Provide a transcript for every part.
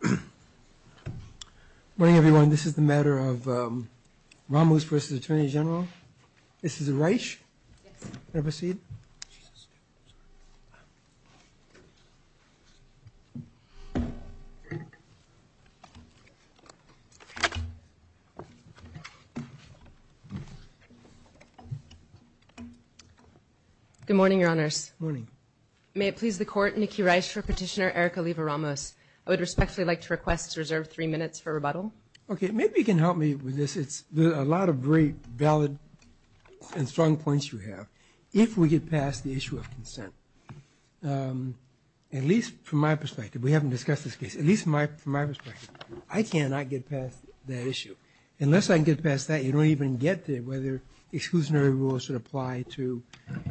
Good morning everyone. This is the matter of Ramos v. Attorney General. This is a key rise for Petitioner Erika Oliva-Ramos. I would respectfully like to request to reserve three minutes for rebuttal. Attorney General Barr Okay, maybe you can help me with this. There are a lot of great, valid, and strong points you have. If we get past the issue of consent, at least from my perspective, we haven't discussed this case, at least from my perspective, I cannot get past that issue. Unless I can get past that, you don't even get to whether exclusionary rules should apply to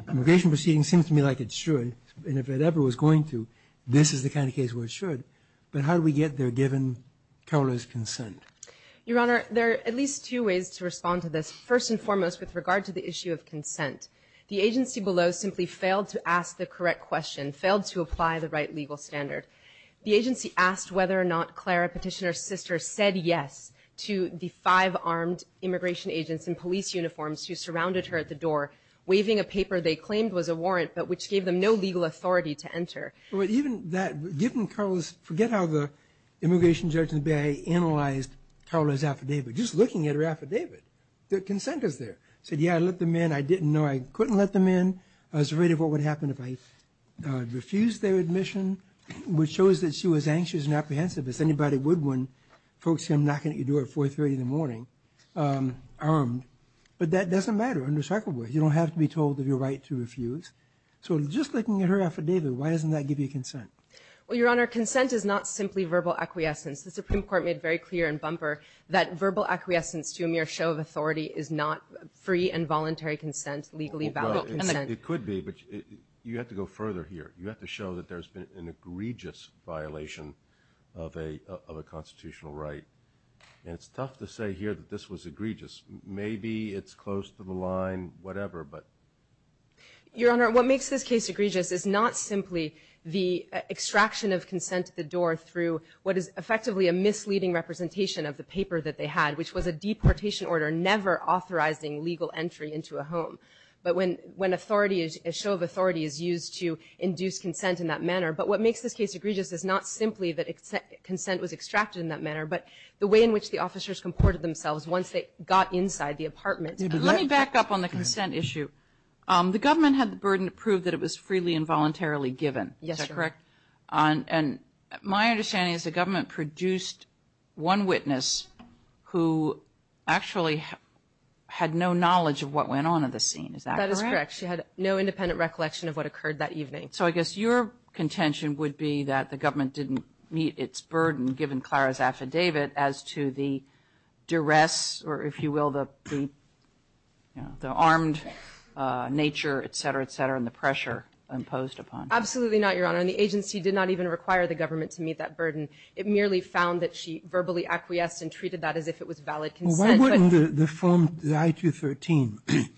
immigration proceedings. It seems to me like it should, and if it ever was going to, this is the kind of case where it should. But how do we get there given Koehler's consent? Attorney General Oliva-Ramos Your Honor, there are at least two ways to respond to this. First and foremost, with regard to the issue of consent, the agency below simply failed to ask the correct question, failed to apply the right legal standard. The agency asked whether or not Clara, Petitioner's sister, said yes to the five armed immigration agents in police uniforms who surrounded her at the door, waving a paper they claimed was a warrant, but which gave them no legal authority to enter. Justice Breyer But even that, given Koehler's, forget how the immigration judge in the Bay analyzed Koehler's affidavit. Just looking at her affidavit, the consent is there. Said, yeah, I let them in. I didn't know I couldn't let them in. I was afraid of what would happen if I refused their admission, which shows that she was anxious and apprehensive as anybody would when folks come knocking at your door at 4.30 in the morning, armed. But that doesn't matter, understandably. You don't have to be told of your right to refuse. So just looking at her affidavit, why doesn't that give you consent? Justice O'Connor Well, Your Honor, consent is not simply verbal acquiescence. The Supreme Court made very clear in Bumper that verbal acquiescence to a mere show of authority is not free and voluntary consent, legally valid consent. Justice Breyer Well, it could be, but you have to go further here. You have to show that there's been an egregious violation of a constitutional right. And it's tough to say here that this was egregious. Maybe it's close to the Supreme Court. I don't know. I don't think it's ever, but — Justice O'Connor Your Honor, what makes this case egregious is not simply the extraction of consent at the door through what is effectively a misleading representation of the paper that they had, which was a deportation order never authorizing legal entry into a home. But when authority is — a show of authority is used to induce consent in that manner. But what makes this case egregious is not simply that consent was extracted in that manner, but the way in which the officers comported themselves once they got inside the apartment. Justice Kagan Let me back up on the consent issue. The government had the burden to prove that it was freely and voluntarily given. Justice O'Connor Yes, Your Honor. Justice Kagan Is that correct? And my understanding is the government produced one witness who actually had no knowledge of what went on in the scene. Is that correct? Justice O'Connor That is correct. She had no independent recollection of what occurred that evening. Justice Kagan So I guess your contention would be that the government didn't meet its burden given Clara's affidavit as to the duress, or if the armed nature, et cetera, et cetera, and the pressure imposed upon her. Justice O'Connor Absolutely not, Your Honor. And the agency did not even require the government to meet that burden. It merely found that she verbally acquiesced and treated that as if it was valid consent. Justice Sotomayor Well, why wouldn't the firm, the I-213,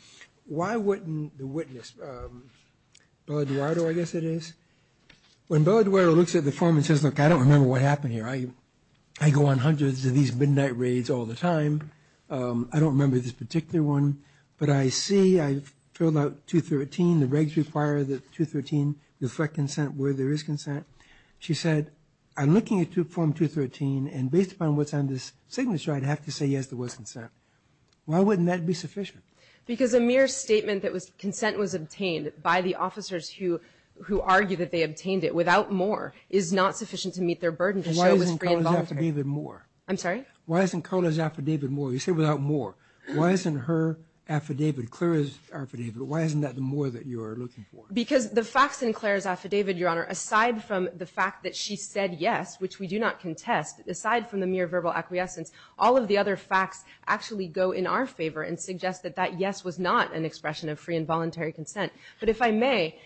why wouldn't the witness, Bella Duardo, I guess it is, when Bella Duardo looks at the form and says, look, I don't remember what happened here. I go on hundreds of these midnight raids all the time. I don't remember this particular one. But I see I've filled out 213. The regs require that 213 reflect consent where there is consent. She said, I'm looking at form 213, and based upon what's on this signature, I'd have to say, yes, there was consent. Why wouldn't that be sufficient? Justice O'Connor Because a mere statement that consent was obtained by the officers who argue that they obtained it without more is not sufficient to meet their burden to show it was free and voluntary. Justice Sotomayor Why isn't Clara's affidavit more? Justice O'Connor I'm sorry? Justice Sotomayor Why isn't Clara's affidavit more? You say without more. Why isn't her affidavit, Clara's affidavit, why isn't that the more that you are looking for? Justice O'Connor Because the facts in Clara's affidavit, Your Honor, aside from the fact that she said yes, which we do not contest, aside from the mere verbal acquiescence, all of the other facts actually go in our favor and suggest that that yes was not an expression of free and voluntary consent. But if I may,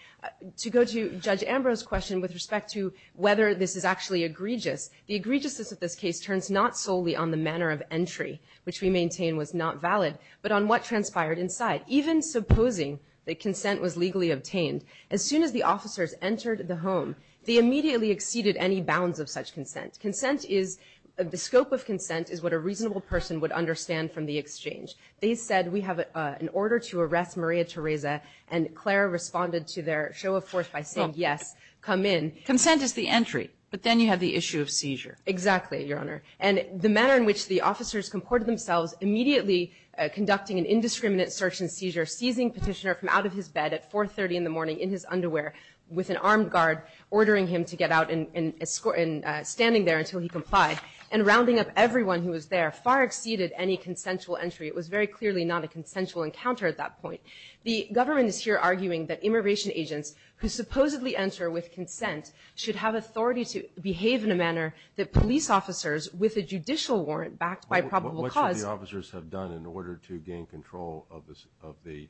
to go to Judge Ambrose's question with respect to whether this is actually egregious, the egregiousness of this case turns not solely on the manner of entry, which we maintain was not valid, but on what transpired inside. Even supposing that consent was legally obtained, as soon as the officers entered the home, they immediately exceeded any bounds of such consent. Consent is, the scope of consent is what a reasonable person would understand from the exchange. They said we have an order to arrest Maria Theresa, and Clara responded to their show of force by saying yes, come in. Justice Sotomayor Consent is the entry, but then you have the issue of seizure. Exactly, Your Honor. And the manner in which the officers comported themselves, immediately conducting an indiscriminate search and seizure, seizing Petitioner from out of his bed at 4.30 in the morning, in his underwear, with an armed guard, ordering him to get out and escort, and standing there until he complied, and rounding up everyone who was there, far exceeded any consensual entry. It was very clearly not a consensual encounter at that point. The government is here arguing that immigration agents who supposedly enter with consent should have authority to behave in a manner that police officers, with a judicial warrant backed by probable cause... What should the officers have done in order to gain control of the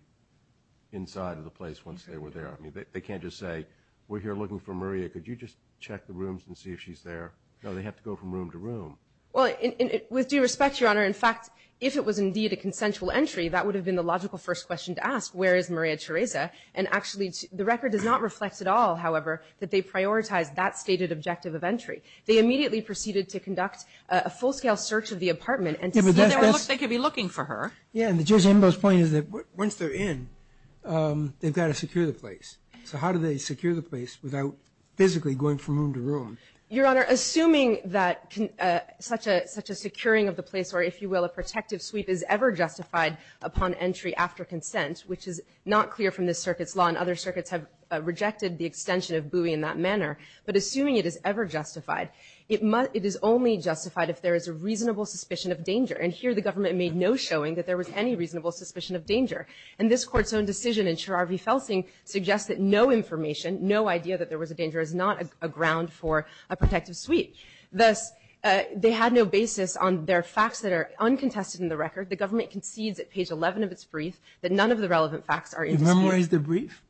inside of the place once they were there? I mean, they can't just say, we're here looking for Maria, could you just check the rooms and see if she's there? No, they have to go from room to room. Well, with due respect, Your Honor, in fact, if it was indeed a consensual entry, that would have been the logical first question to ask, where is Maria Theresa? And actually, the record does not reflect at all, however, that they prioritized that stated objective of entry. They immediately proceeded to conduct a full-scale search of the apartment and to see if they could be looking for her. Yeah, and Judge Ambo's point is that once they're in, they've got to secure the place. So how do they secure the place without physically going from room to room? Your Honor, assuming that such a securing of the place or, if you will, a protective sweep is ever justified upon entry after consent, which is not clear from this circuit's law, and other circuits have rejected the extension of buoy in that manner, but assuming it is ever justified, it is only justified if there is a reasonable suspicion of danger. And here, the government made no showing that there was any reasonable suspicion of danger. And this Court's own decision in Cherar v. Felsing suggests that no information, no idea that there was a danger, is not a ground for a protective sweep. Thus, they had no basis on their facts that are uncontested in the record. The government concedes at page 11 of its brief that none of the relevant facts are indisputable. Where is the brief?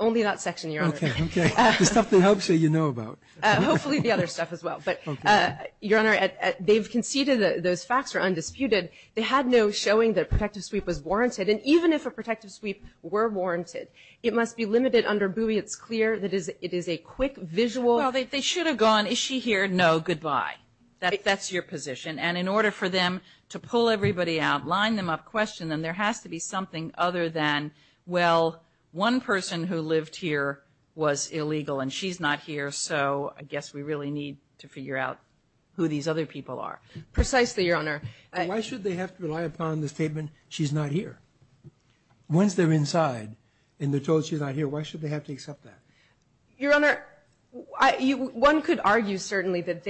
Only that section, Your Honor. Okay, okay. The stuff that helps you, you know about. Hopefully the other stuff as well. Okay. But, Your Honor, they've conceded that those facts are undisputed. They had no showing that a protective sweep was warranted. And even if a protective sweep were warranted, it must be limited under buoy. It's clear that it is a quick, visual… Well, they should have gone, is she here? No, goodbye. That's your position. And in order for them to pull everybody out, line them up, question them, there has to be something other than, well, one person who lived here was illegal and she's not here, so I guess we really need to figure out who these other people are. Precisely, Your Honor. Why should they have to rely upon the statement, she's not here? Once they're inside and they're told she's not here, why should they have to accept that? Your Honor, one could argue certainly that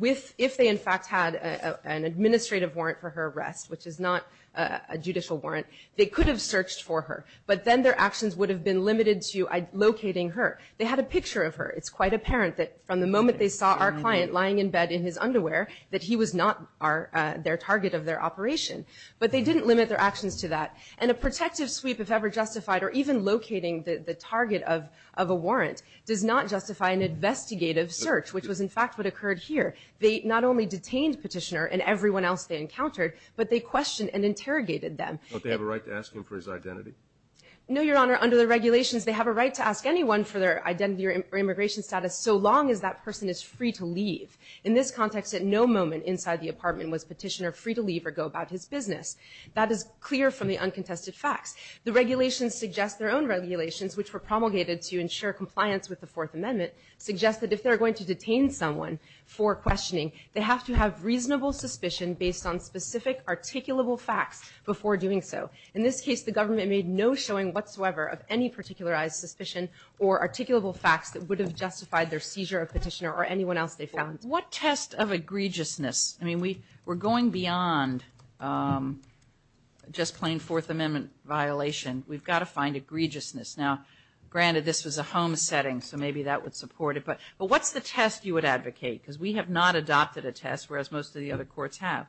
if they in fact had an administrative warrant for her arrest, which is not a judicial warrant, they could have searched for her. But then their actions would have been limited to locating her. They had a picture of her. It's quite apparent that from the moment they saw our client lying in bed in his underwear that he was not their target of their operation. But they didn't limit their actions to that. And a protective sweep, if ever justified, or even locating the target of a warrant, does not justify an investigative search, which was in fact what occurred here. They not only detained Petitioner and everyone else they encountered, but they questioned and interrogated them. Don't they have a right to ask him for his identity? No, Your Honor. Under the regulations, they have a right to ask anyone for their identity or immigration status so long as that person is free to leave. In this context, at no moment inside the apartment was Petitioner free to leave or go about his business. That is clear from the uncontested facts. The regulations suggest their own regulations, which were promulgated to ensure compliance with the Fourth Amendment, suggest that if they're going to detain someone for questioning, they have to have reasonable suspicion based on specific, articulable facts before doing so. In this case, the government made no showing whatsoever of any particularized suspicion or articulable facts that would have justified their seizure of Petitioner or anyone else they found. What test of egregiousness? I mean, we're going beyond just plain Fourth Amendment violation. We've got to find egregiousness. Now, granted, this was a home setting, so maybe that would support it, but what's the test you would advocate? Because we have not adopted a test, whereas most of the other courts have.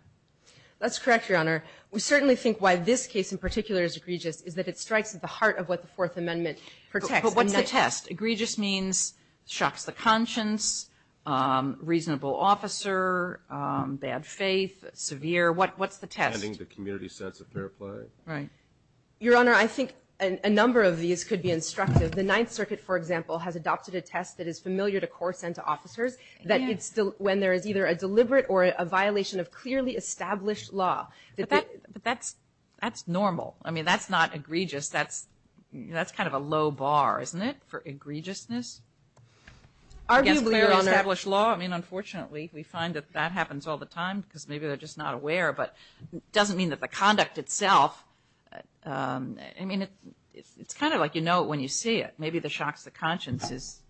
That's correct, Your Honor. We certainly think why this case in particular is egregious is that it strikes at the heart of what the Fourth Amendment protects. But what's the test? Egregious means shocks the conscience, reasonable officer, bad faith, severe. What's the test? Understanding the community sense of fair play. Right. Your Honor, I think a number of these could be instructive. The Ninth Circuit, for example, has adopted a test that is familiar to courts and to officers, that it's when there is either a deliberate or a violation of clearly established law. But that's normal. I mean, that's not egregious. That's kind of a low bar, isn't it, for egregiousness? Arguably, Your Honor. Against clearly established law? I mean, unfortunately, we find that that happens all the time because maybe they're just not aware. But it doesn't mean that the conduct itself, I mean, it's kind of like you know it when you see it. Maybe the shocks the conscience is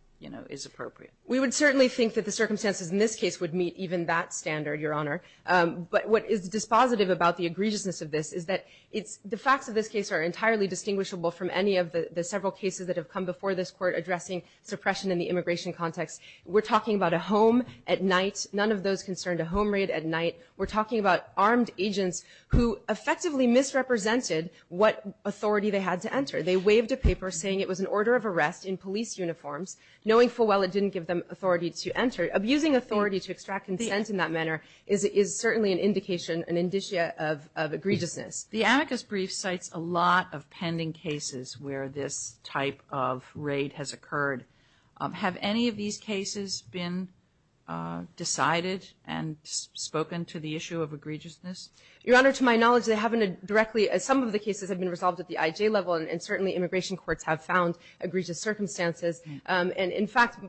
appropriate. We would certainly think that the circumstances in this case would meet even that standard, Your Honor. But what is dispositive about the egregiousness of this is that the facts of this case are entirely distinguishable from any of the several cases that have come before this court addressing suppression in the immigration context. We're talking about a home at night. None of those concerned a home raid at night. We're talking about armed agents who effectively misrepresented what authority they had to enter. They waved a paper saying it was an order of arrest in police uniforms, knowing full well it didn't give them authority to enter. Abusing authority to extract consent in that manner is certainly an indication, an indicia of egregiousness. The amicus brief cites a lot of pending cases where this type of raid has occurred. Have any of these cases been decided and spoken to the issue of egregiousness? Your Honor, to my knowledge, they haven't directly. Some of the cases have been resolved at the IJ level, and certainly immigration courts have found egregious circumstances. And in fact,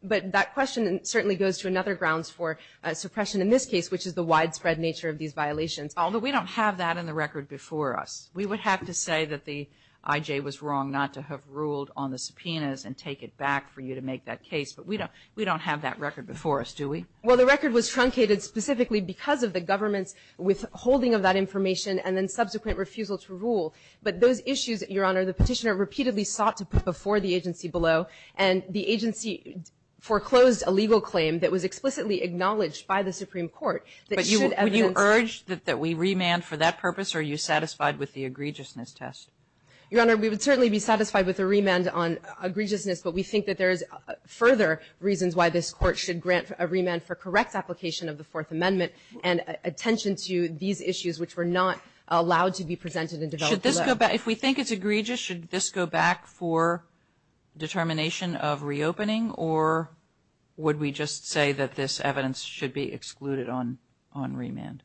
but that question certainly goes to another grounds for suppression in this case, which is the widespread nature of these violations. Although we don't have that in the record before us, we would have to say that the IJ was wrong not to have ruled on the subpoenas and take it back for you to make that case. But we don't have that record before us, do we? Well, the record was truncated specifically because of the government's withholding of that information and then subsequent refusal to rule. But those issues, Your Honor, the Petitioner repeatedly sought to put before the agency below, and the agency foreclosed a legal claim that was explicitly acknowledged by the Supreme Court that should evidence. But would you urge that we remand for that purpose, or are you satisfied with the egregiousness test? Your Honor, we would certainly be satisfied with a remand on egregiousness, but we think that there is further reasons why this Court should grant a remand for correct application of the Fourth Amendment and attention to these issues which were not allowed to be presented and developed below. Should this go back? If we think it's egregious, should this go back for determination of reopening, or would we just say that this evidence should be excluded on remand?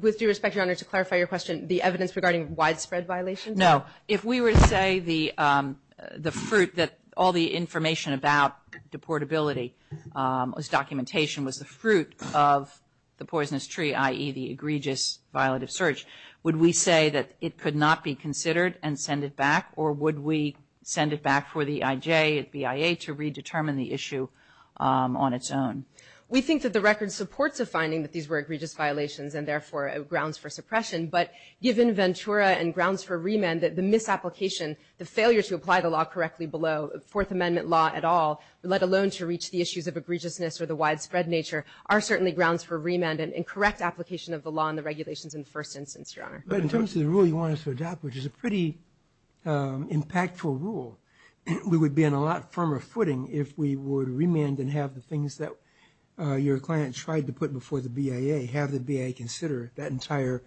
With due respect, Your Honor, to clarify your question, the evidence regarding widespread violations? No. If we were to say the fruit that all the information about deportability as documentation was the fruit of the poisonous tree, i.e., the egregious violative search, would we say that it could not be considered and send it back, or would we send it back for the IJ at BIA to redetermine the issue on its own? We think that the record supports the finding that these were egregious violations and, therefore, grounds for suppression. But given Ventura and grounds for remand, the misapplication, the failure to apply the law correctly below Fourth Amendment law at all, let alone to reach the issues of egregiousness or the widespread nature, are certainly grounds for remand and correct application of the law and the regulations in the first instance, Your Honor. But in terms of the rule you want us to adopt, which is a pretty impactful rule, we would be on a lot firmer footing if we would remand and have the things that your client tried to put before the BIA, have the BIA consider that entire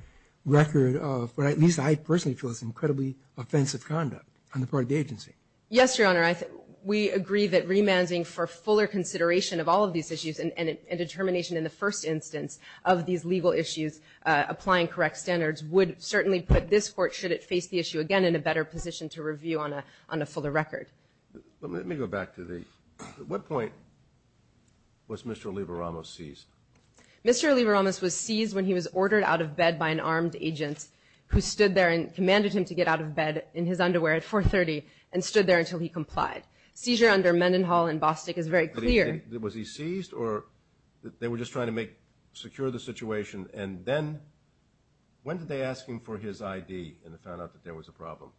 record of what, at least I personally feel, is incredibly offensive conduct on the part of the agency. Yes, Your Honor. We agree that remanding for fuller consideration of all of these issues and determination in the first instance of these legal issues, applying correct standards, would certainly put this Court, should it face the issue again, in a better position to review on a fuller record. Let me go back to the – at what point was Mr. Oliva-Ramos seized? Mr. Oliva-Ramos was seized when he was ordered out of bed by an armed agent who stood there and commanded him to get out of bed in his underwear at 430 and stood there until he complied. Seizure under Mendenhall and Bostic is very clear. Was he seized or they were just trying to make – secure the situation, and then when did they ask him for his ID and they found out that there was a problem?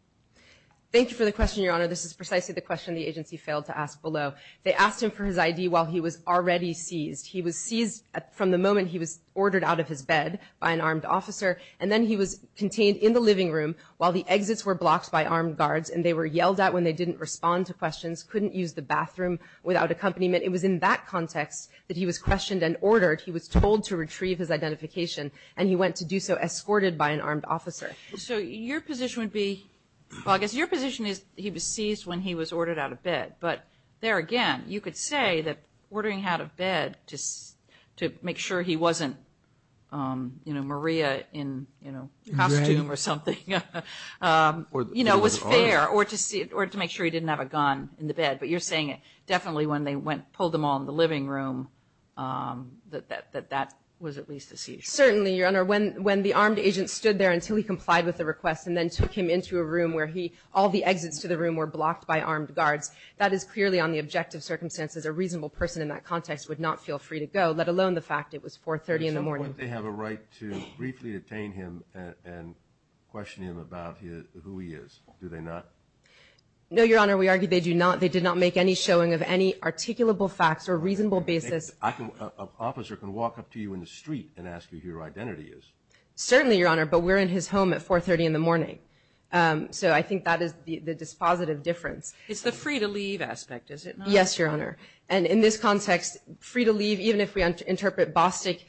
Thank you for the question, Your Honor. This is precisely the question the agency failed to ask below. They asked him for his ID while he was already seized. He was seized from the moment he was ordered out of his bed by an armed officer, and then he was contained in the living room while the exits were blocked by armed guards and they were yelled at when they didn't respond to questions, couldn't use the bathroom without accompaniment. It was in that context that he was questioned and ordered. He was told to retrieve his identification, and he went to do so escorted by an armed officer. So your position would be – well, I guess your position is he was seized when he was ordered out of bed. But there again, you could say that ordering out of bed to make sure he wasn't, you know, Maria in, you know, costume or something, you know, was fair, or to make sure he didn't have a gun in the bed. But you're saying definitely when they pulled them all in the living room that that was at least a seizure. Certainly, Your Honor. When the armed agent stood there until he complied with the request and then took him into a room where all the exits to the room were blocked by armed guards, that is clearly on the objective circumstances a reasonable person in that context would not feel free to go, let alone the fact it was 4.30 in the morning. So would they have a right to briefly detain him and question him about who he is? Do they not? No, Your Honor. We argue they do not. They did not make any showing of any articulable facts or reasonable basis. An officer can walk up to you in the street and ask you who your identity is. Certainly, Your Honor. But we're in his home at 4.30 in the morning. So I think that is the dispositive difference. It's the free-to-leave aspect, is it not? Yes, Your Honor. And in this context, free-to-leave, even if we interpret Bostic,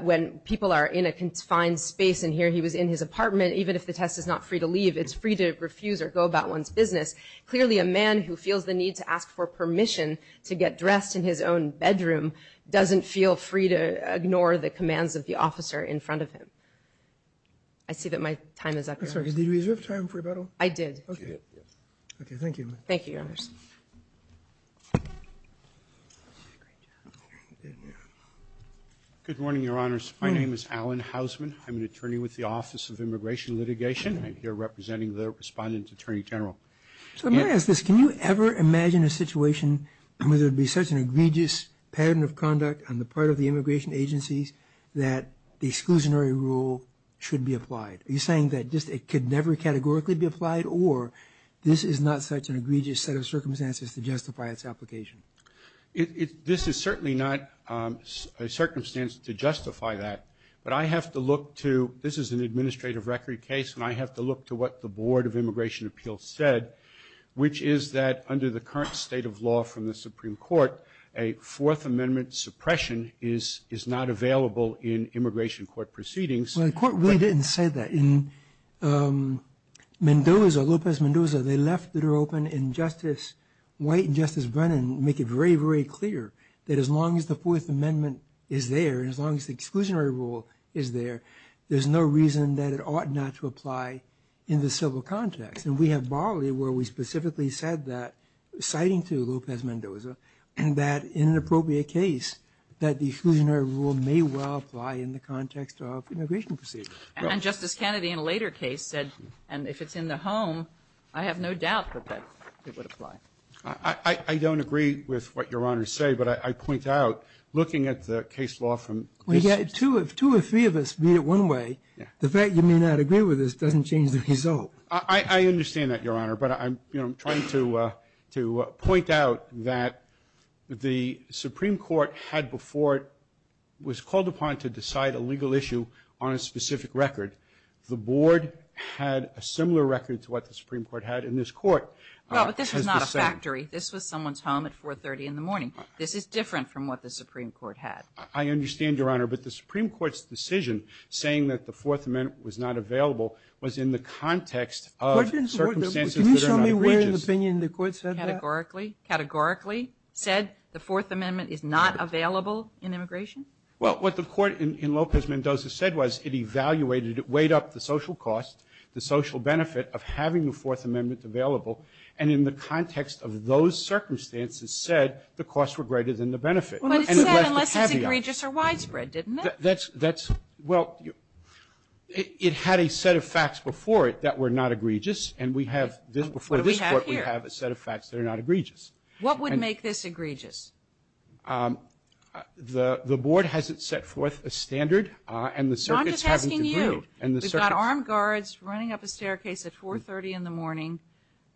when people are in a confined space and here he was in his apartment, even if the test is not free-to-leave, it's free to refuse or go about one's business. Clearly, a man who feels the need to ask for permission to get dressed in his own bedroom doesn't feel free to ignore the commands of the officer in front of him. I see that my time is up, Your Honor. I'm sorry. Did we reserve time for rebuttal? I did. Okay, thank you. Thank you, Your Honor. Good morning, Your Honors. My name is Alan Hausman. I'm an attorney with the Office of Immigration Litigation. I'm here representing the Respondent Attorney General. So let me ask this. Can you ever imagine a situation where there would be such an egregious pattern of conduct on the part of the immigration agencies that the exclusionary rule should be applied? Are you saying that just it could never categorically be applied or this is not such an egregious set of circumstances to justify its application? This is certainly not a circumstance to justify that, but I have to look to – this is an administrative record case, and I have to look to what the Board of Immigration Appeals said, which is that under the current state of law from the Supreme Court, a Fourth Amendment suppression is not available in immigration court proceedings. Well, the court really didn't say that. In Mendoza, Lopez-Mendoza, they left it open, and Justice White and Justice Brennan make it very, very clear that as long as the Fourth Amendment is there and as long as the exclusionary rule is there, there's no reason that it ought not to apply in the civil context. And we have barley where we specifically said that, citing to Lopez-Mendoza, and that in an appropriate case, that the exclusionary rule may well apply in the context of immigration proceedings. And Justice Kennedy in a later case said, and if it's in the home, I have no doubt that it would apply. I don't agree with what Your Honor is saying, but I point out looking at the case law from this – Well, if two or three of us read it one way, the fact you may not agree with this doesn't change the result. I understand that, Your Honor, but I'm trying to point out that the Supreme Court had before it – was called upon to decide a legal issue on a specific record. The board had a similar record to what the Supreme Court had in this court. Well, but this was not a factory. This was someone's home at 4.30 in the morning. This is different from what the Supreme Court had. I understand, Your Honor, but the Supreme Court's decision saying that the Fourth Amendment was not available was in the context of circumstances that are not egregious. Can you show me where in the opinion the court said that? Categorically? Categorically said the Fourth Amendment is not available in immigration? Well, what the court in Lopez-Mendoza said was it evaluated – it weighed up the social cost, the social benefit of having the Fourth Amendment available, and in the context of those circumstances said the costs were greater than the benefit. But it said unless it's egregious or widespread, didn't it? Well, it had a set of facts before it that were not egregious, and before this court we have a set of facts that are not egregious. What would make this egregious? The board hasn't set forth a standard, and the circuits haven't agreed. I'm just asking you. We've got armed guards running up a staircase at 4.30 in the morning,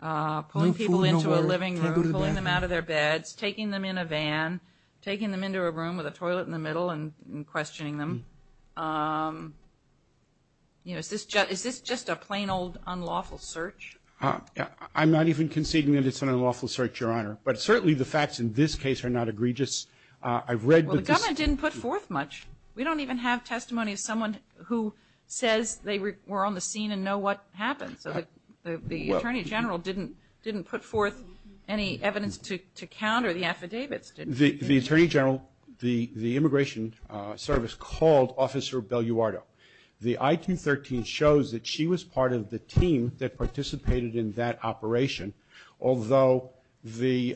pulling people into a living room, pulling them out of their beds, taking them in a van, taking them into a room with a toilet in the middle and questioning them. Is this just a plain old unlawful search? I'm not even conceding that it's an unlawful search, Your Honor. But certainly the facts in this case are not egregious. I've read that this – Well, the government didn't put forth much. We don't even have testimony of someone who says they were on the scene and know what happened. So the Attorney General didn't put forth any evidence to counter the affidavits, did he? The Attorney General, the Immigration Service, called Officer Belluardo. The I-213 shows that she was part of the team that participated in that operation, although the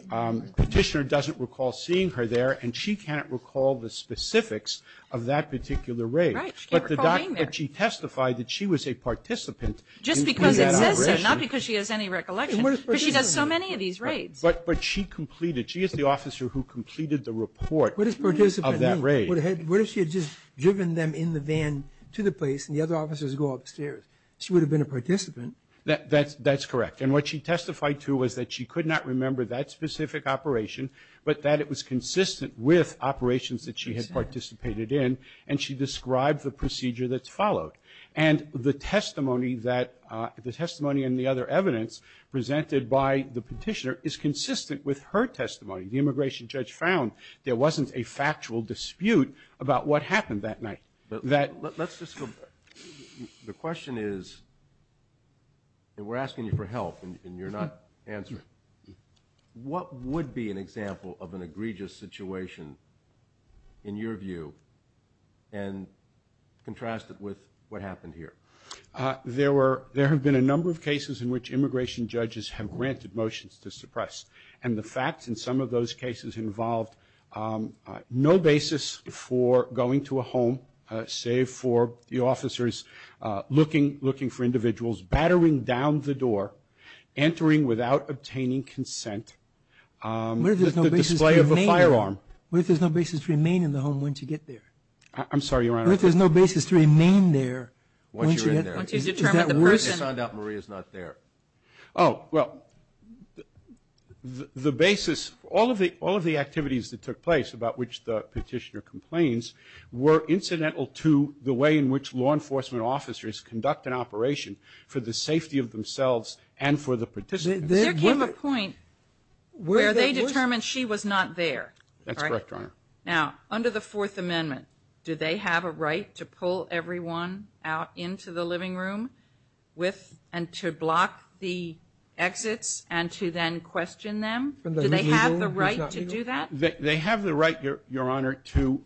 petitioner doesn't recall seeing her there, and she can't recall the specifics of that particular raid. Right. She can't recall being there. But she testified that she was a participant in that operation. Just because it says so, not because she has any recollection. But she does so many of these raids. But she completed. She is the officer who completed the report of that raid. What does participant mean? What if she had just driven them in the van to the place and the other officers go upstairs? She would have been a participant. That's correct. And what she testified to was that she could not remember that specific operation, but that it was consistent with operations that she had participated in, and she described the procedure that followed. And the testimony that – the testimony and the other evidence presented by the petitioner is consistent with her testimony. The immigration judge found there wasn't a factual dispute about what happened that night. Let's just go back. The question is – and we're asking you for help, and you're not answering. What would be an example of an egregious situation, in your view, and contrast it with what happened here? There have been a number of cases in which immigration judges have granted motions to suppress, and the facts in some of those cases involved no basis for going to a home, save for the officers looking for individuals, battering down the door, entering without obtaining consent, the display of a firearm. What if there's no basis to remain in the home once you get there? I'm sorry, Your Honor. What if there's no basis to remain there once you get there? Once you're in there. Is that worse? They found out Maria's not there. Oh, well, the basis – all of the activities that took place, about which the petitioner complains, were incidental to the way in which law enforcement officers conduct an operation for the safety of themselves and for the participants. There came a point where they determined she was not there. That's correct, Your Honor. Now, under the Fourth Amendment, do they have a right to pull everyone out into the living room with and to block the exits and to then question them? Do they have the right to do that? They have the right, Your Honor, to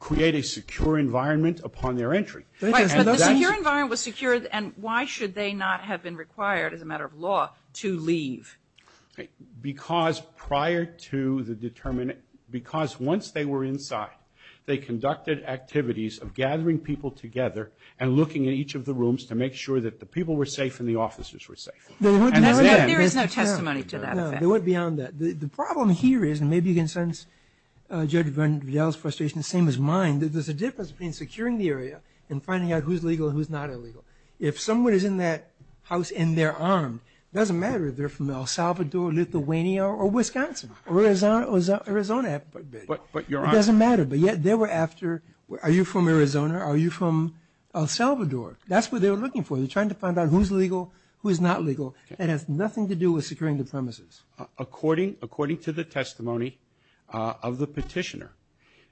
create a secure environment upon their entry. But the secure environment was secure, and why should they not have been required as a matter of law to leave? Because once they were inside, they conducted activities of gathering people together and looking at each of the rooms to make sure that the people were safe and the officers were safe. There is no testimony to that effect. They went beyond that. The problem here is, and maybe you can sense Judge Verdell's frustration, same as mine, that there's a difference between securing the area and finding out who's legal and who's not illegal. If someone is in that house and they're armed, it doesn't matter if they're from El Salvador, Lithuania, or Wisconsin, or Arizona. It doesn't matter, but yet they were after, are you from Arizona, are you from El Salvador? That's what they were looking for. They're trying to find out who's legal, who's not legal. It has nothing to do with securing the premises. According to the testimony of the petitioner,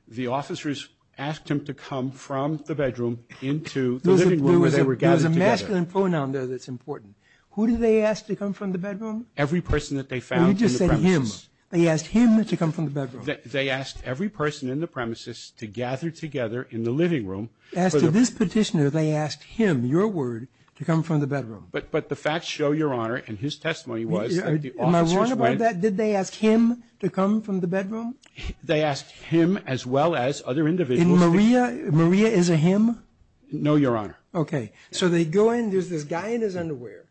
the officers asked him to come from the bedroom into the living room where they were gathered together. There was a masculine pronoun there that's important. Who did they ask to come from the bedroom? Every person that they found in the premises. You just said him. They asked him to come from the bedroom. They asked every person in the premises to gather together in the living room. As to this petitioner, they asked him, your word, to come from the bedroom. But the facts show, Your Honor, and his testimony was that the officers went. Am I wrong about that? Did they ask him to come from the bedroom? They asked him as well as other individuals. And Maria? Maria is a him? No, Your Honor. Okay. So they go in. There's this guy in his underwear.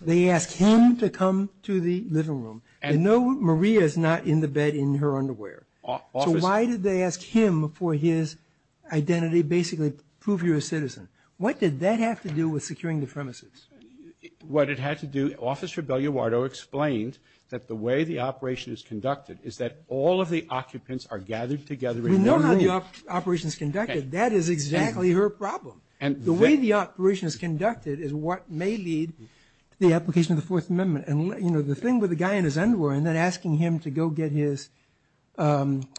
They ask him to come to the living room. And no, Maria is not in the bed in her underwear. So why did they ask him for his identity, basically prove you're a citizen? What did that have to do with securing the premises? What it had to do, Officer Belliuardo explained that the way the operation is conducted is that all of the occupants are gathered together in the living room. We know how the operation is conducted. That is exactly her problem. The way the operation is conducted is what may lead to the application of the Fourth Amendment. And, you know, the thing with the guy in his underwear and then asking him to go get his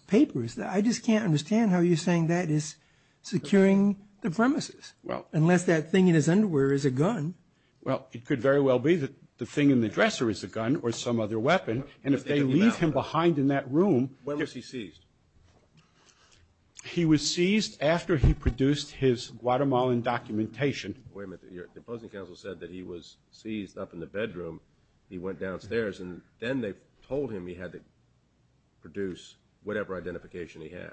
papers, I just can't understand how you're saying that is securing the premises, unless that thing in his underwear is a gun. Well, it could very well be that the thing in the dresser is a gun or some other weapon. And if they leave him behind in that room, Where was he seized? He was seized after he produced his Guatemalan documentation. Wait a minute. The opposing counsel said that he was seized up in the bedroom. He went downstairs, and then they told him he had to produce whatever identification he had.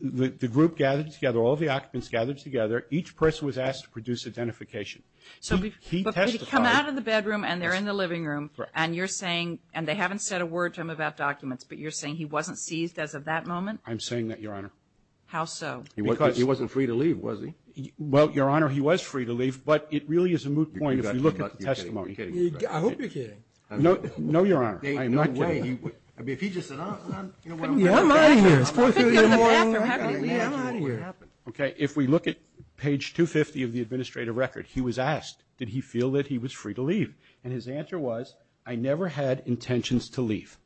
The group gathered together, all the occupants gathered together. Each person was asked to produce identification. So he testified. But they come out of the bedroom, and they're in the living room, and you're saying, and they haven't said a word to him about documents, but you're saying he wasn't seized as of that moment? I'm saying that, Your Honor. How so? Because he wasn't free to leave, was he? Well, Your Honor, he was free to leave, but it really is a moot point if you look at the testimony. You're kidding. I hope you're kidding. No, Your Honor. I am not kidding. I mean, if he just said, you know what, I'm out of here. I'm out of here. Okay. If we look at page 250 of the administrative record, he was asked, did he feel that he was free to leave? And his answer was, I never had intentions to leave.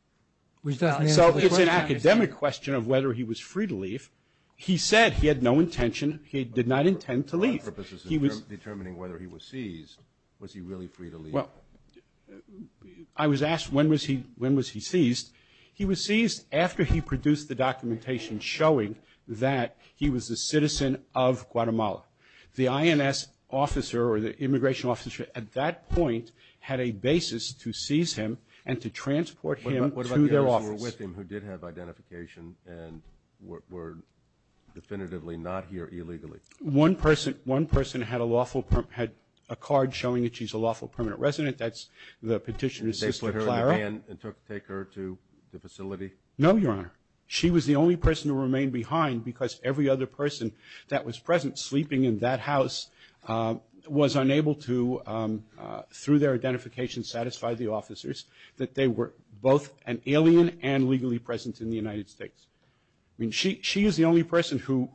So it's an academic question of whether he was free to leave. He said he had no intention. He did not intend to leave. He was determining whether he was seized. Was he really free to leave? Well, I was asked when was he seized. He was seized after he produced the documentation showing that he was a citizen of Guatemala. The INS officer or the immigration officer at that point had a basis to seize him and to transport him to their office. What about those who were with him who did have identification and were definitively not here illegally? One person had a card showing that she's a lawful permanent resident. That's the petitioner's sister, Clara. And took her to the facility? No, Your Honor. She was the only person who remained behind because every other person that was present sleeping in that house was unable to, through their identification, satisfy the officers that they were both an alien and legally present in the United States. I mean, she is the only person who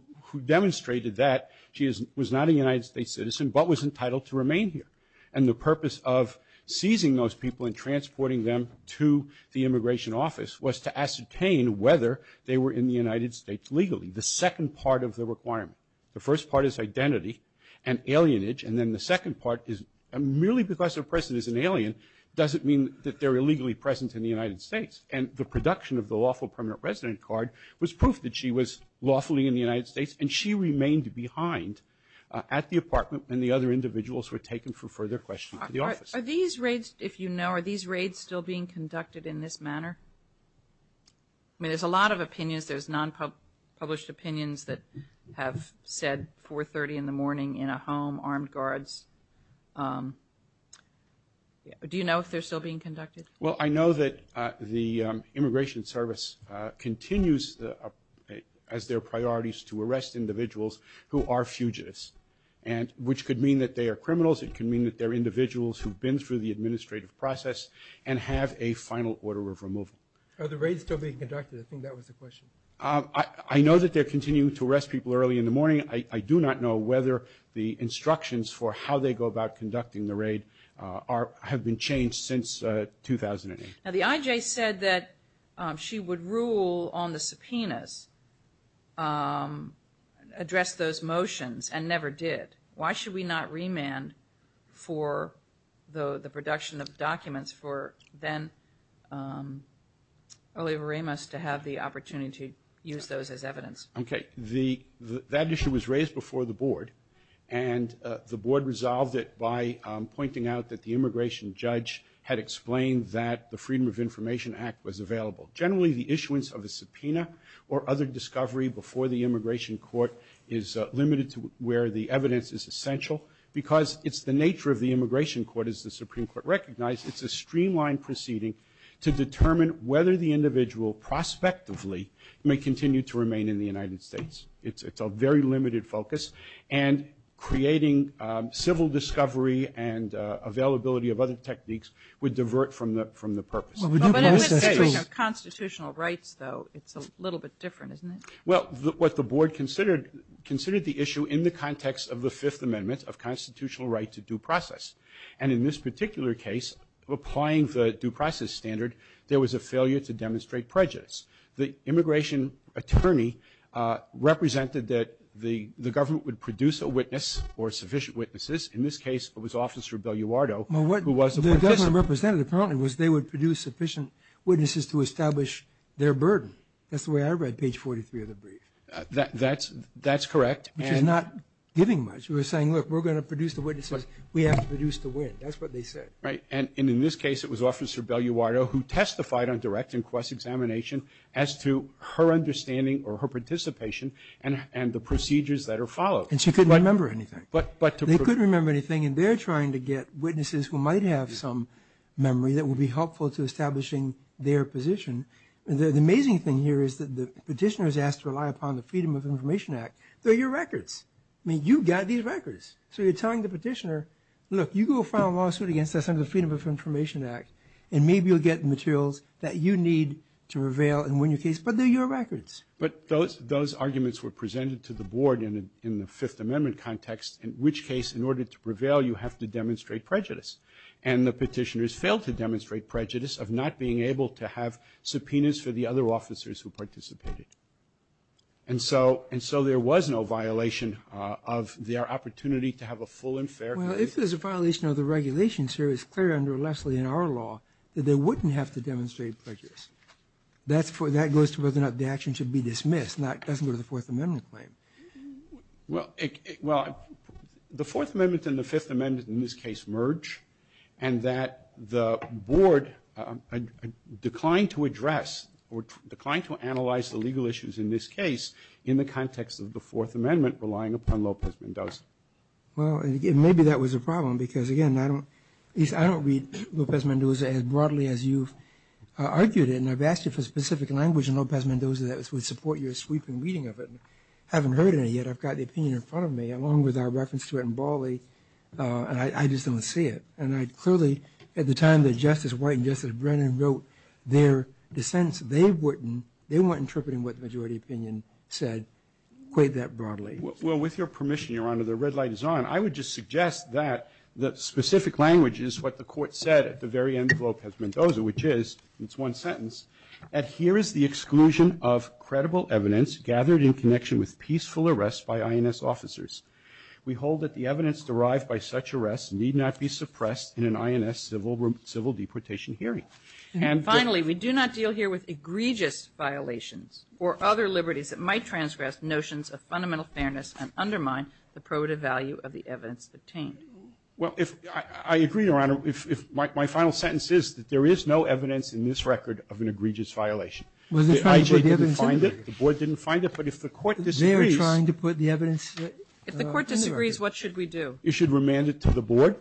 demonstrated that she was not a United States citizen but was entitled to remain here. And the purpose of seizing those people and transporting them to the immigration office was to ascertain whether they were in the United States legally. The second part of the requirement. The first part is identity and alienage, and then the second part is merely because they're present as an alien doesn't mean that they're illegally present in the United States. And the production of the lawful permanent resident card was proof that she was lawfully in the United States and she remained behind at the apartment when the other individuals were taken for further questioning to the office. Are these raids, if you know, are these raids still being conducted in this manner? I mean, there's a lot of opinions. There's non-published opinions that have said 4.30 in the morning in a home, armed guards. Do you know if they're still being conducted? Well, I know that the Immigration Service continues as their priorities to arrest individuals who are fugitives, which could mean that they are criminals. It could mean that they're individuals who've been through the administrative process and have a final order of removal. Are the raids still being conducted? I think that was the question. I know that they're continuing to arrest people early in the morning. I do not know whether the instructions for how they go about conducting the raid have been changed since 2008. Now, the IJ said that she would rule on the subpoenas, address those motions, and never did. Why should we not remand for the production of documents for then Oliva Ramos to have the opportunity to use those as evidence? Okay. That issue was raised before the board, and the board resolved it by pointing out that the immigration judge had explained that the Freedom of Information Act was available. Generally, the issuance of a subpoena or other discovery before the immigration court is limited to where the evidence is essential. Because it's the nature of the immigration court, as the Supreme Court recognized, it's a streamlined proceeding to determine whether the individual prospectively may continue to remain in the United States. It's a very limited focus, and creating civil discovery and availability of other techniques would divert from the purpose. But in the history of constitutional rights, though, it's a little bit different, isn't it? Well, what the board considered the issue in the context of the Fifth Amendment of constitutional right to due process. And in this particular case, applying the due process standard, there was a failure to demonstrate prejudice. The immigration attorney represented that the government would produce a witness or sufficient witnesses. In this case, it was Officer Belluardo who was a participant. Well, what the government represented apparently was they would produce sufficient witnesses to establish their burden. That's the way I read page 43 of the brief. That's correct. Which is not giving much. We're saying, look, we're going to produce the witnesses. We have to produce the wit. That's what they said. Right. And in this case, it was Officer Belluardo who testified on direct inquest examination as to her understanding or her participation and the procedures that are followed. And she couldn't remember anything. They couldn't remember anything, and they're trying to get witnesses who might have some memory that would be helpful to establishing their position. The amazing thing here is that the petitioner is asked to rely upon the Freedom of Information Act. They're your records. I mean, you've got these records. So you're telling the petitioner, look, you go file a lawsuit against us under the Freedom of Information Act, and maybe you'll get the materials that you need to prevail and win your case, but they're your records. But those arguments were presented to the board in the Fifth Amendment context, in which case, in order to prevail, you have to demonstrate prejudice. And the petitioners failed to demonstrate prejudice of not being able to have subpoenas for the other officers who participated. And so there was no violation of their opportunity to have a full and fair case. Well, if there's a violation of the regulations here, it's clear under Leslie in our law that they wouldn't have to demonstrate prejudice. That goes to whether or not the action should be dismissed. That doesn't go to the Fourth Amendment claim. Well, the Fourth Amendment and the Fifth Amendment in this case merge, and that the board declined to address or declined to analyze the legal issues in this case in the context of the Fourth Amendment relying upon Lopez-Mendoza. Well, maybe that was a problem because, again, I don't read Lopez-Mendoza as broadly as you've argued it. And I've asked you for specific language in Lopez-Mendoza that would support your sweeping reading of it. I haven't heard any yet. I've got the opinion in front of me, along with our reference to it in Bali, and I just don't see it. And I clearly, at the time that Justice White and Justice Brennan wrote their dissents, they weren't interpreting what the majority opinion said quite that broadly. Well, with your permission, Your Honor, the red light is on. I would just suggest that the specific language is what the Court said at the very end of Lopez-Mendoza, which is, it's one sentence, that here is the exclusion of credible evidence gathered in connection with peaceful arrests by INS officers. We hold that the evidence derived by such arrests need not be suppressed in an INS civil deportation hearing. And the ---- And finally, we do not deal here with egregious violations or other liberties that might transgress notions of fundamental fairness and undermine the probative Well, if ---- I agree, Your Honor. My final sentence is that there is no evidence in this record of an egregious violation. The IG didn't find it. The board didn't find it. But if the Court disagrees ---- They are trying to put the evidence ---- If the Court disagrees, what should we do? You should remand it to the board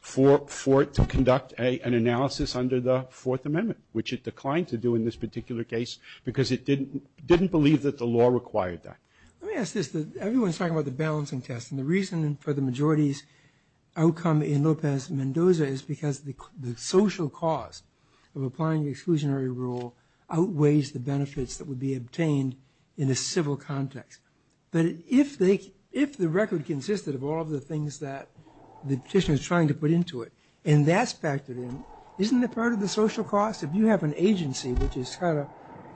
for it to conduct an analysis under the Fourth Amendment, which it declined to do in this particular case because it didn't believe that the law required that. Let me ask this. Everyone is talking about the balancing test. And the reason for the majority's outcome in Lopez Mendoza is because the social cost of applying the exclusionary rule outweighs the benefits that would be obtained in a civil context. But if they ---- if the record consisted of all of the things that the petitioner is trying to put into it and that's factored in, isn't that part of the social cost? If you have an agency which is kind of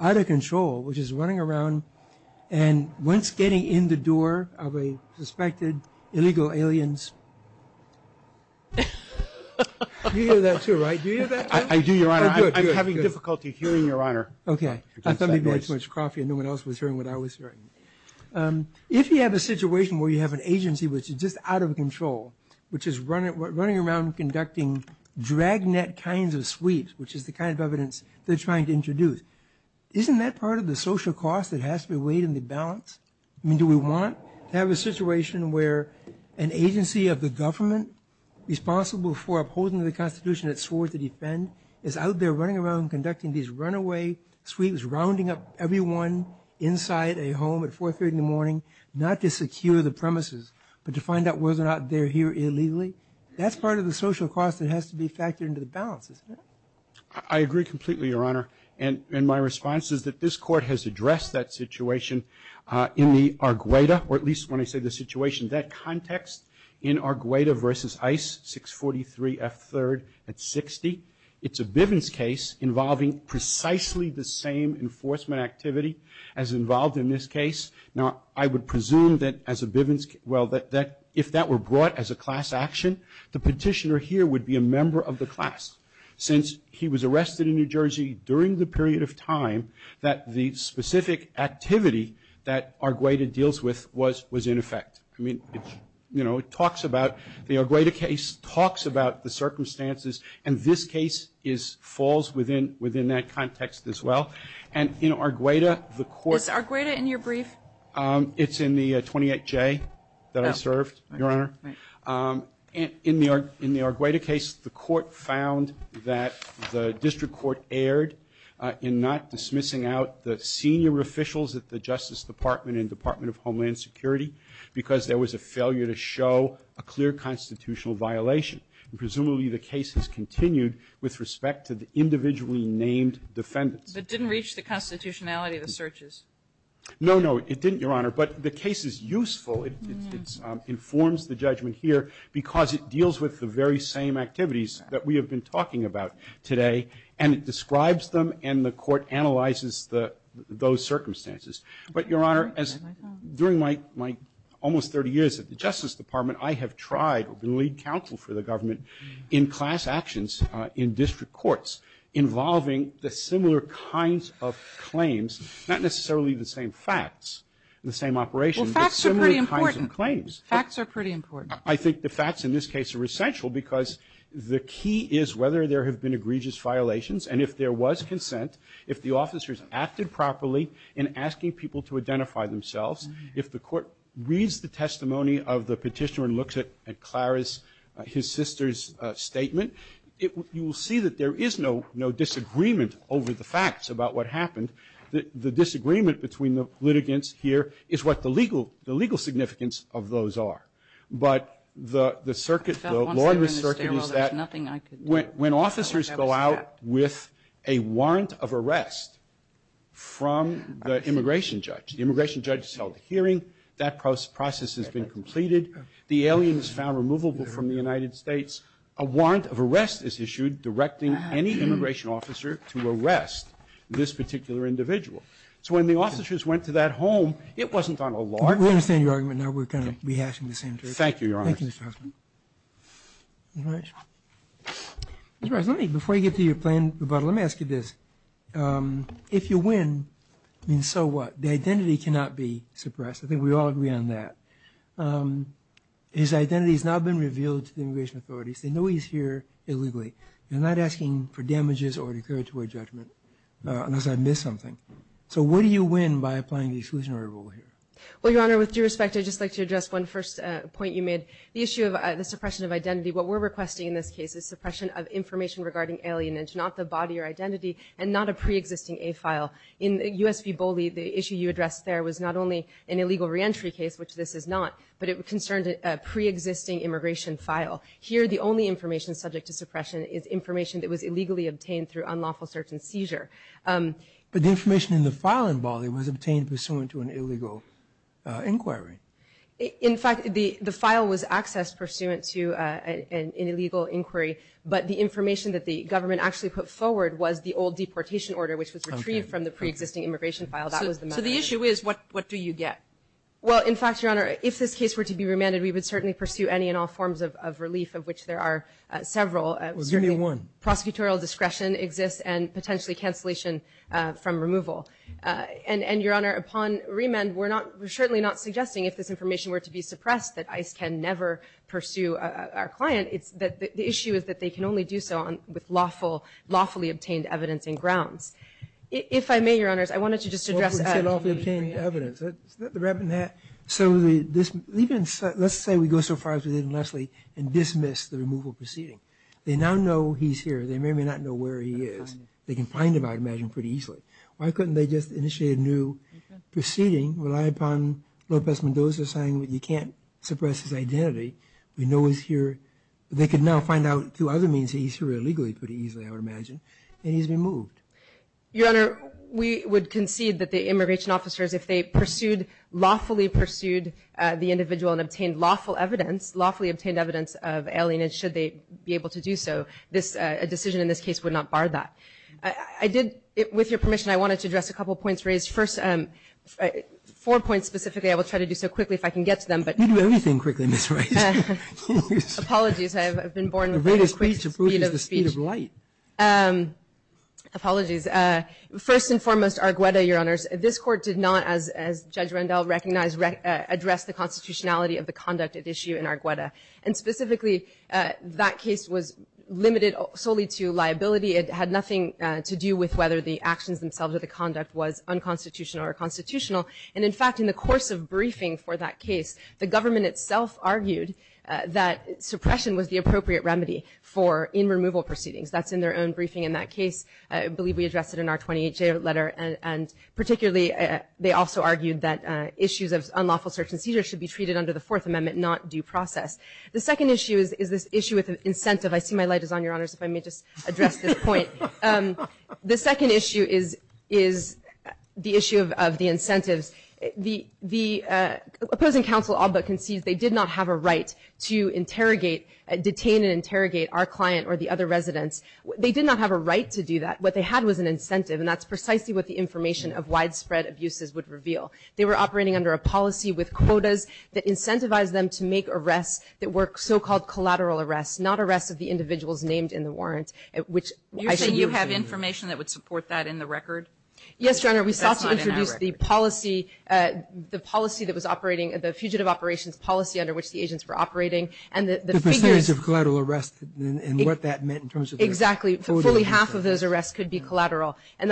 out of control, which is running around conducting dragnet kinds of sweeps, which is the kind of evidence they're trying to I mean, do we want to have a situation where an agency of the government responsible for upholding the Constitution that it swore to defend is out there running around conducting these runaway sweeps, rounding up everyone inside a home at 4 o'clock in the morning, not to secure the premises, but to find out whether or not they're here illegally? That's part of the social cost that has to be factored into the balance, isn't it? I agree completely, Your Honor. And my response is that this Court has addressed that situation in the Argueta, or at least when I say the situation, that context in Argueta v. Ice, 643 F. 3rd at 60. It's a Bivens case involving precisely the same enforcement activity as involved in this case. Now, I would presume that as a Bivens ---- well, that if that were brought as a class action, the petitioner here would be a member of the class. Since he was arrested in New Jersey during the period of time, that the specific activity that Argueta deals with was in effect. I mean, you know, it talks about the Argueta case, talks about the circumstances, and this case falls within that context as well. And in Argueta, the Court ---- Is Argueta in your brief? It's in the 28J that I served, Your Honor. Right. In the Argueta case, the Court found that the district court erred in not dismissing out the senior officials at the Justice Department and Department of Homeland Security because there was a failure to show a clear constitutional violation. Presumably, the case has continued with respect to the individually named defendants. But it didn't reach the constitutionality of the searches. No, no, it didn't, Your Honor. But the case is useful. It informs the judgment here because it deals with the very same activities that we have been talking about today. And it describes them, and the Court analyzes those circumstances. But, Your Honor, during my almost 30 years at the Justice Department, I have tried to lead counsel for the government in class actions in district courts involving the similar kinds of claims, not necessarily the same facts, the same operations. Well, facts are pretty important. But similar kinds of claims. Facts are pretty important. I think the facts in this case are essential because the key is whether there have been egregious violations. And if there was consent, if the officers acted properly in asking people to identify themselves, if the Court reads the testimony of the petitioner and looks at Clara's his sister's statement, you will see that there is no disagreement over the facts about what happened. The disagreement between the litigants here is what the legal significance of those are. But the circuit, the law in the circuit is that when officers go out with a warrant of arrest from the immigration judge, the immigration judge has held a hearing, that process has been completed. The alien is found removable from the United States. A warrant of arrest is issued directing any immigration officer to arrest this particular individual. So when the officers went to that home, it wasn't on a law. We understand your argument now. We're going to be asking the same question. Thank you, Your Honor. Thank you, Mr. Huffman. All right. Mr. Huffman, before you get to your planned rebuttal, let me ask you this. If you win, then so what? The identity cannot be suppressed. I think we all agree on that. His identity has not been revealed to the immigration authorities. They know he's here illegally. They're not asking for damages or declaratory judgment unless I miss something. So what do you win by applying the exclusionary rule here? Well, Your Honor, with due respect, I'd just like to address one first point you made. The issue of the suppression of identity, what we're requesting in this case is suppression of information regarding alienage, not the body or identity, and not a preexisting A file. In U.S. v. Boley, the issue you addressed there was not only an illegal reentry case, which this is not, but it concerned a preexisting immigration file. Here, the only information subject to suppression is information that was illegally obtained through unlawful search and seizure. But the information in the file in Boley was obtained pursuant to an illegal inquiry. In fact, the file was accessed pursuant to an illegal inquiry, but the information that the government actually put forward was the old deportation order, which was retrieved from the preexisting immigration file. That was the matter. So the issue is what do you get? Well, in fact, Your Honor, if this case were to be remanded, we would certainly pursue any and all forms of relief, of which there are several. Well, give me one. Prosecutorial discretion exists and potentially cancellation from removal. And, Your Honor, upon remand, we're certainly not suggesting, if this information were to be suppressed, that ICE can never pursue our client. The issue is that they can only do so with lawfully obtained evidence and grounds. If I may, Your Honors, I wanted to just address… Lawfully obtained evidence. Isn't that the rabbit in the hat? So let's say we go so far as we did in Leslie and dismiss the removal proceeding. They now know he's here. They may or may not know where he is. They can find him, I'd imagine, pretty easily. Why couldn't they just initiate a new proceeding, rely upon Lopez Mendoza saying, you can't suppress his identity, we know he's here. They could now find out through other means that he's here illegally pretty easily, I would imagine, and he's been moved. Your Honor, we would concede that the immigration officers, if they pursued, lawfully pursued the individual and obtained lawful evidence, lawfully obtained evidence of alienage, should they be able to do so, a decision in this case would not bar that. I did, with your permission, I wanted to address a couple of points raised. First, four points specifically, I will try to do so quickly if I can get to them. You do everything quickly, Ms. Rice. Apologies. I've been born with very quick speed of speech. Apologies. First and foremost, Argueta, Your Honors, this court did not, as Judge Rendell recognized, address the constitutionality of the conduct at issue in Argueta. And specifically, that case was limited solely to liability. It had nothing to do with whether the actions themselves or the conduct was unconstitutional or constitutional. And, in fact, in the course of briefing for that case, the government itself argued that suppression was the appropriate remedy for in-removal proceedings. That's in their own briefing in that case. I believe we addressed it in our 28-day letter. And particularly, they also argued that issues of unlawful search and seizure should be treated under the Fourth Amendment, not due process. The second issue is this issue with incentive. I see my light is on, Your Honors, if I may just address this point. The second issue is the issue of the incentives. The opposing counsel all but concedes they did not have a right to interrogate, detain and interrogate our client or the other residents. They did not have a right to do that. What they had was an incentive, and that's precisely what the information of widespread abuses would reveal. They were operating under a policy with quotas that incentivized them to make arrests that were so-called collateral arrests, not arrests of the individuals named in the warrant, which I should use here. You're saying you have information that would support that in the record? Yes, Your Honor, we sought to introduce the policy that was operating, the fugitive operations policy under which the agents were operating. The percentage of collateral arrests and what that meant in terms of their full detention? Exactly. Fully half of those arrests could be collateral. And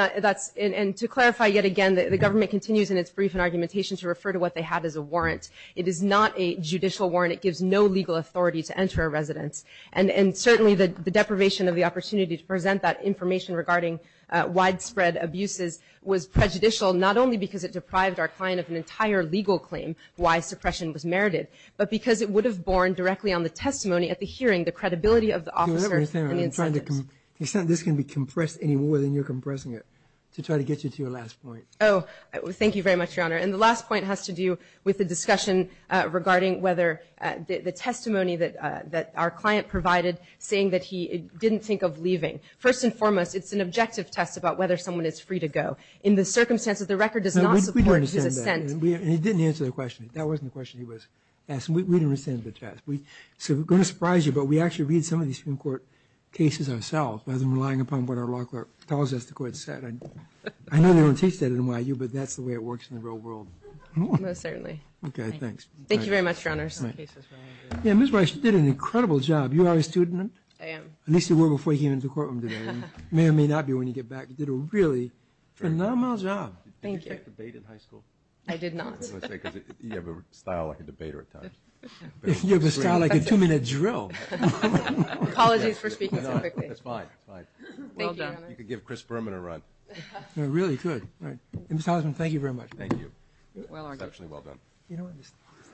to clarify yet again, the government continues in its brief and argumentation to refer to what they had as a warrant. It is not a judicial warrant. It gives no legal authority to enter a residence. And certainly the deprivation of the opportunity to present that information regarding widespread abuses was prejudicial not only because it deprived our client of an entire legal claim why suppression was merited, but because it would have borne directly on the testimony at the hearing, the credibility of the officers and the incentives. You're saying this can be compressed any more than you're compressing it to try to get you to your last point. Oh, thank you very much, Your Honor. And the last point has to do with the discussion regarding whether the testimony that our client provided saying that he didn't think of leaving. First and foremost, it's an objective test about whether someone is free to go. In the circumstances, the record does not support his assent. We don't understand that. And he didn't answer the question. That wasn't the question he was asking. We don't understand the test. So we're going to surprise you, but we actually read some of these Supreme Court cases ourselves rather than relying upon what our law court tells us the court said. I know they don't teach that at NYU, but that's the way it works in the real world. Most certainly. Okay, thanks. Thank you very much, Your Honors. Yeah, Ms. Weiss, you did an incredible job. You are a student? I am. At least you were before you came into the courtroom today. You may or may not be when you get back. You did a really phenomenal job. Did you take the bait in high school? I did not. That's what I was going to say, because you have a style like a debater at times. You have a style like a two-minute drill. Apologies for speaking so quickly. No, that's fine. That's fine. Thank you, Your Honor. You could give Chris Berman a run. No, really, you could. All right. Mr. Osmond, thank you very much. Thank you. Well argued.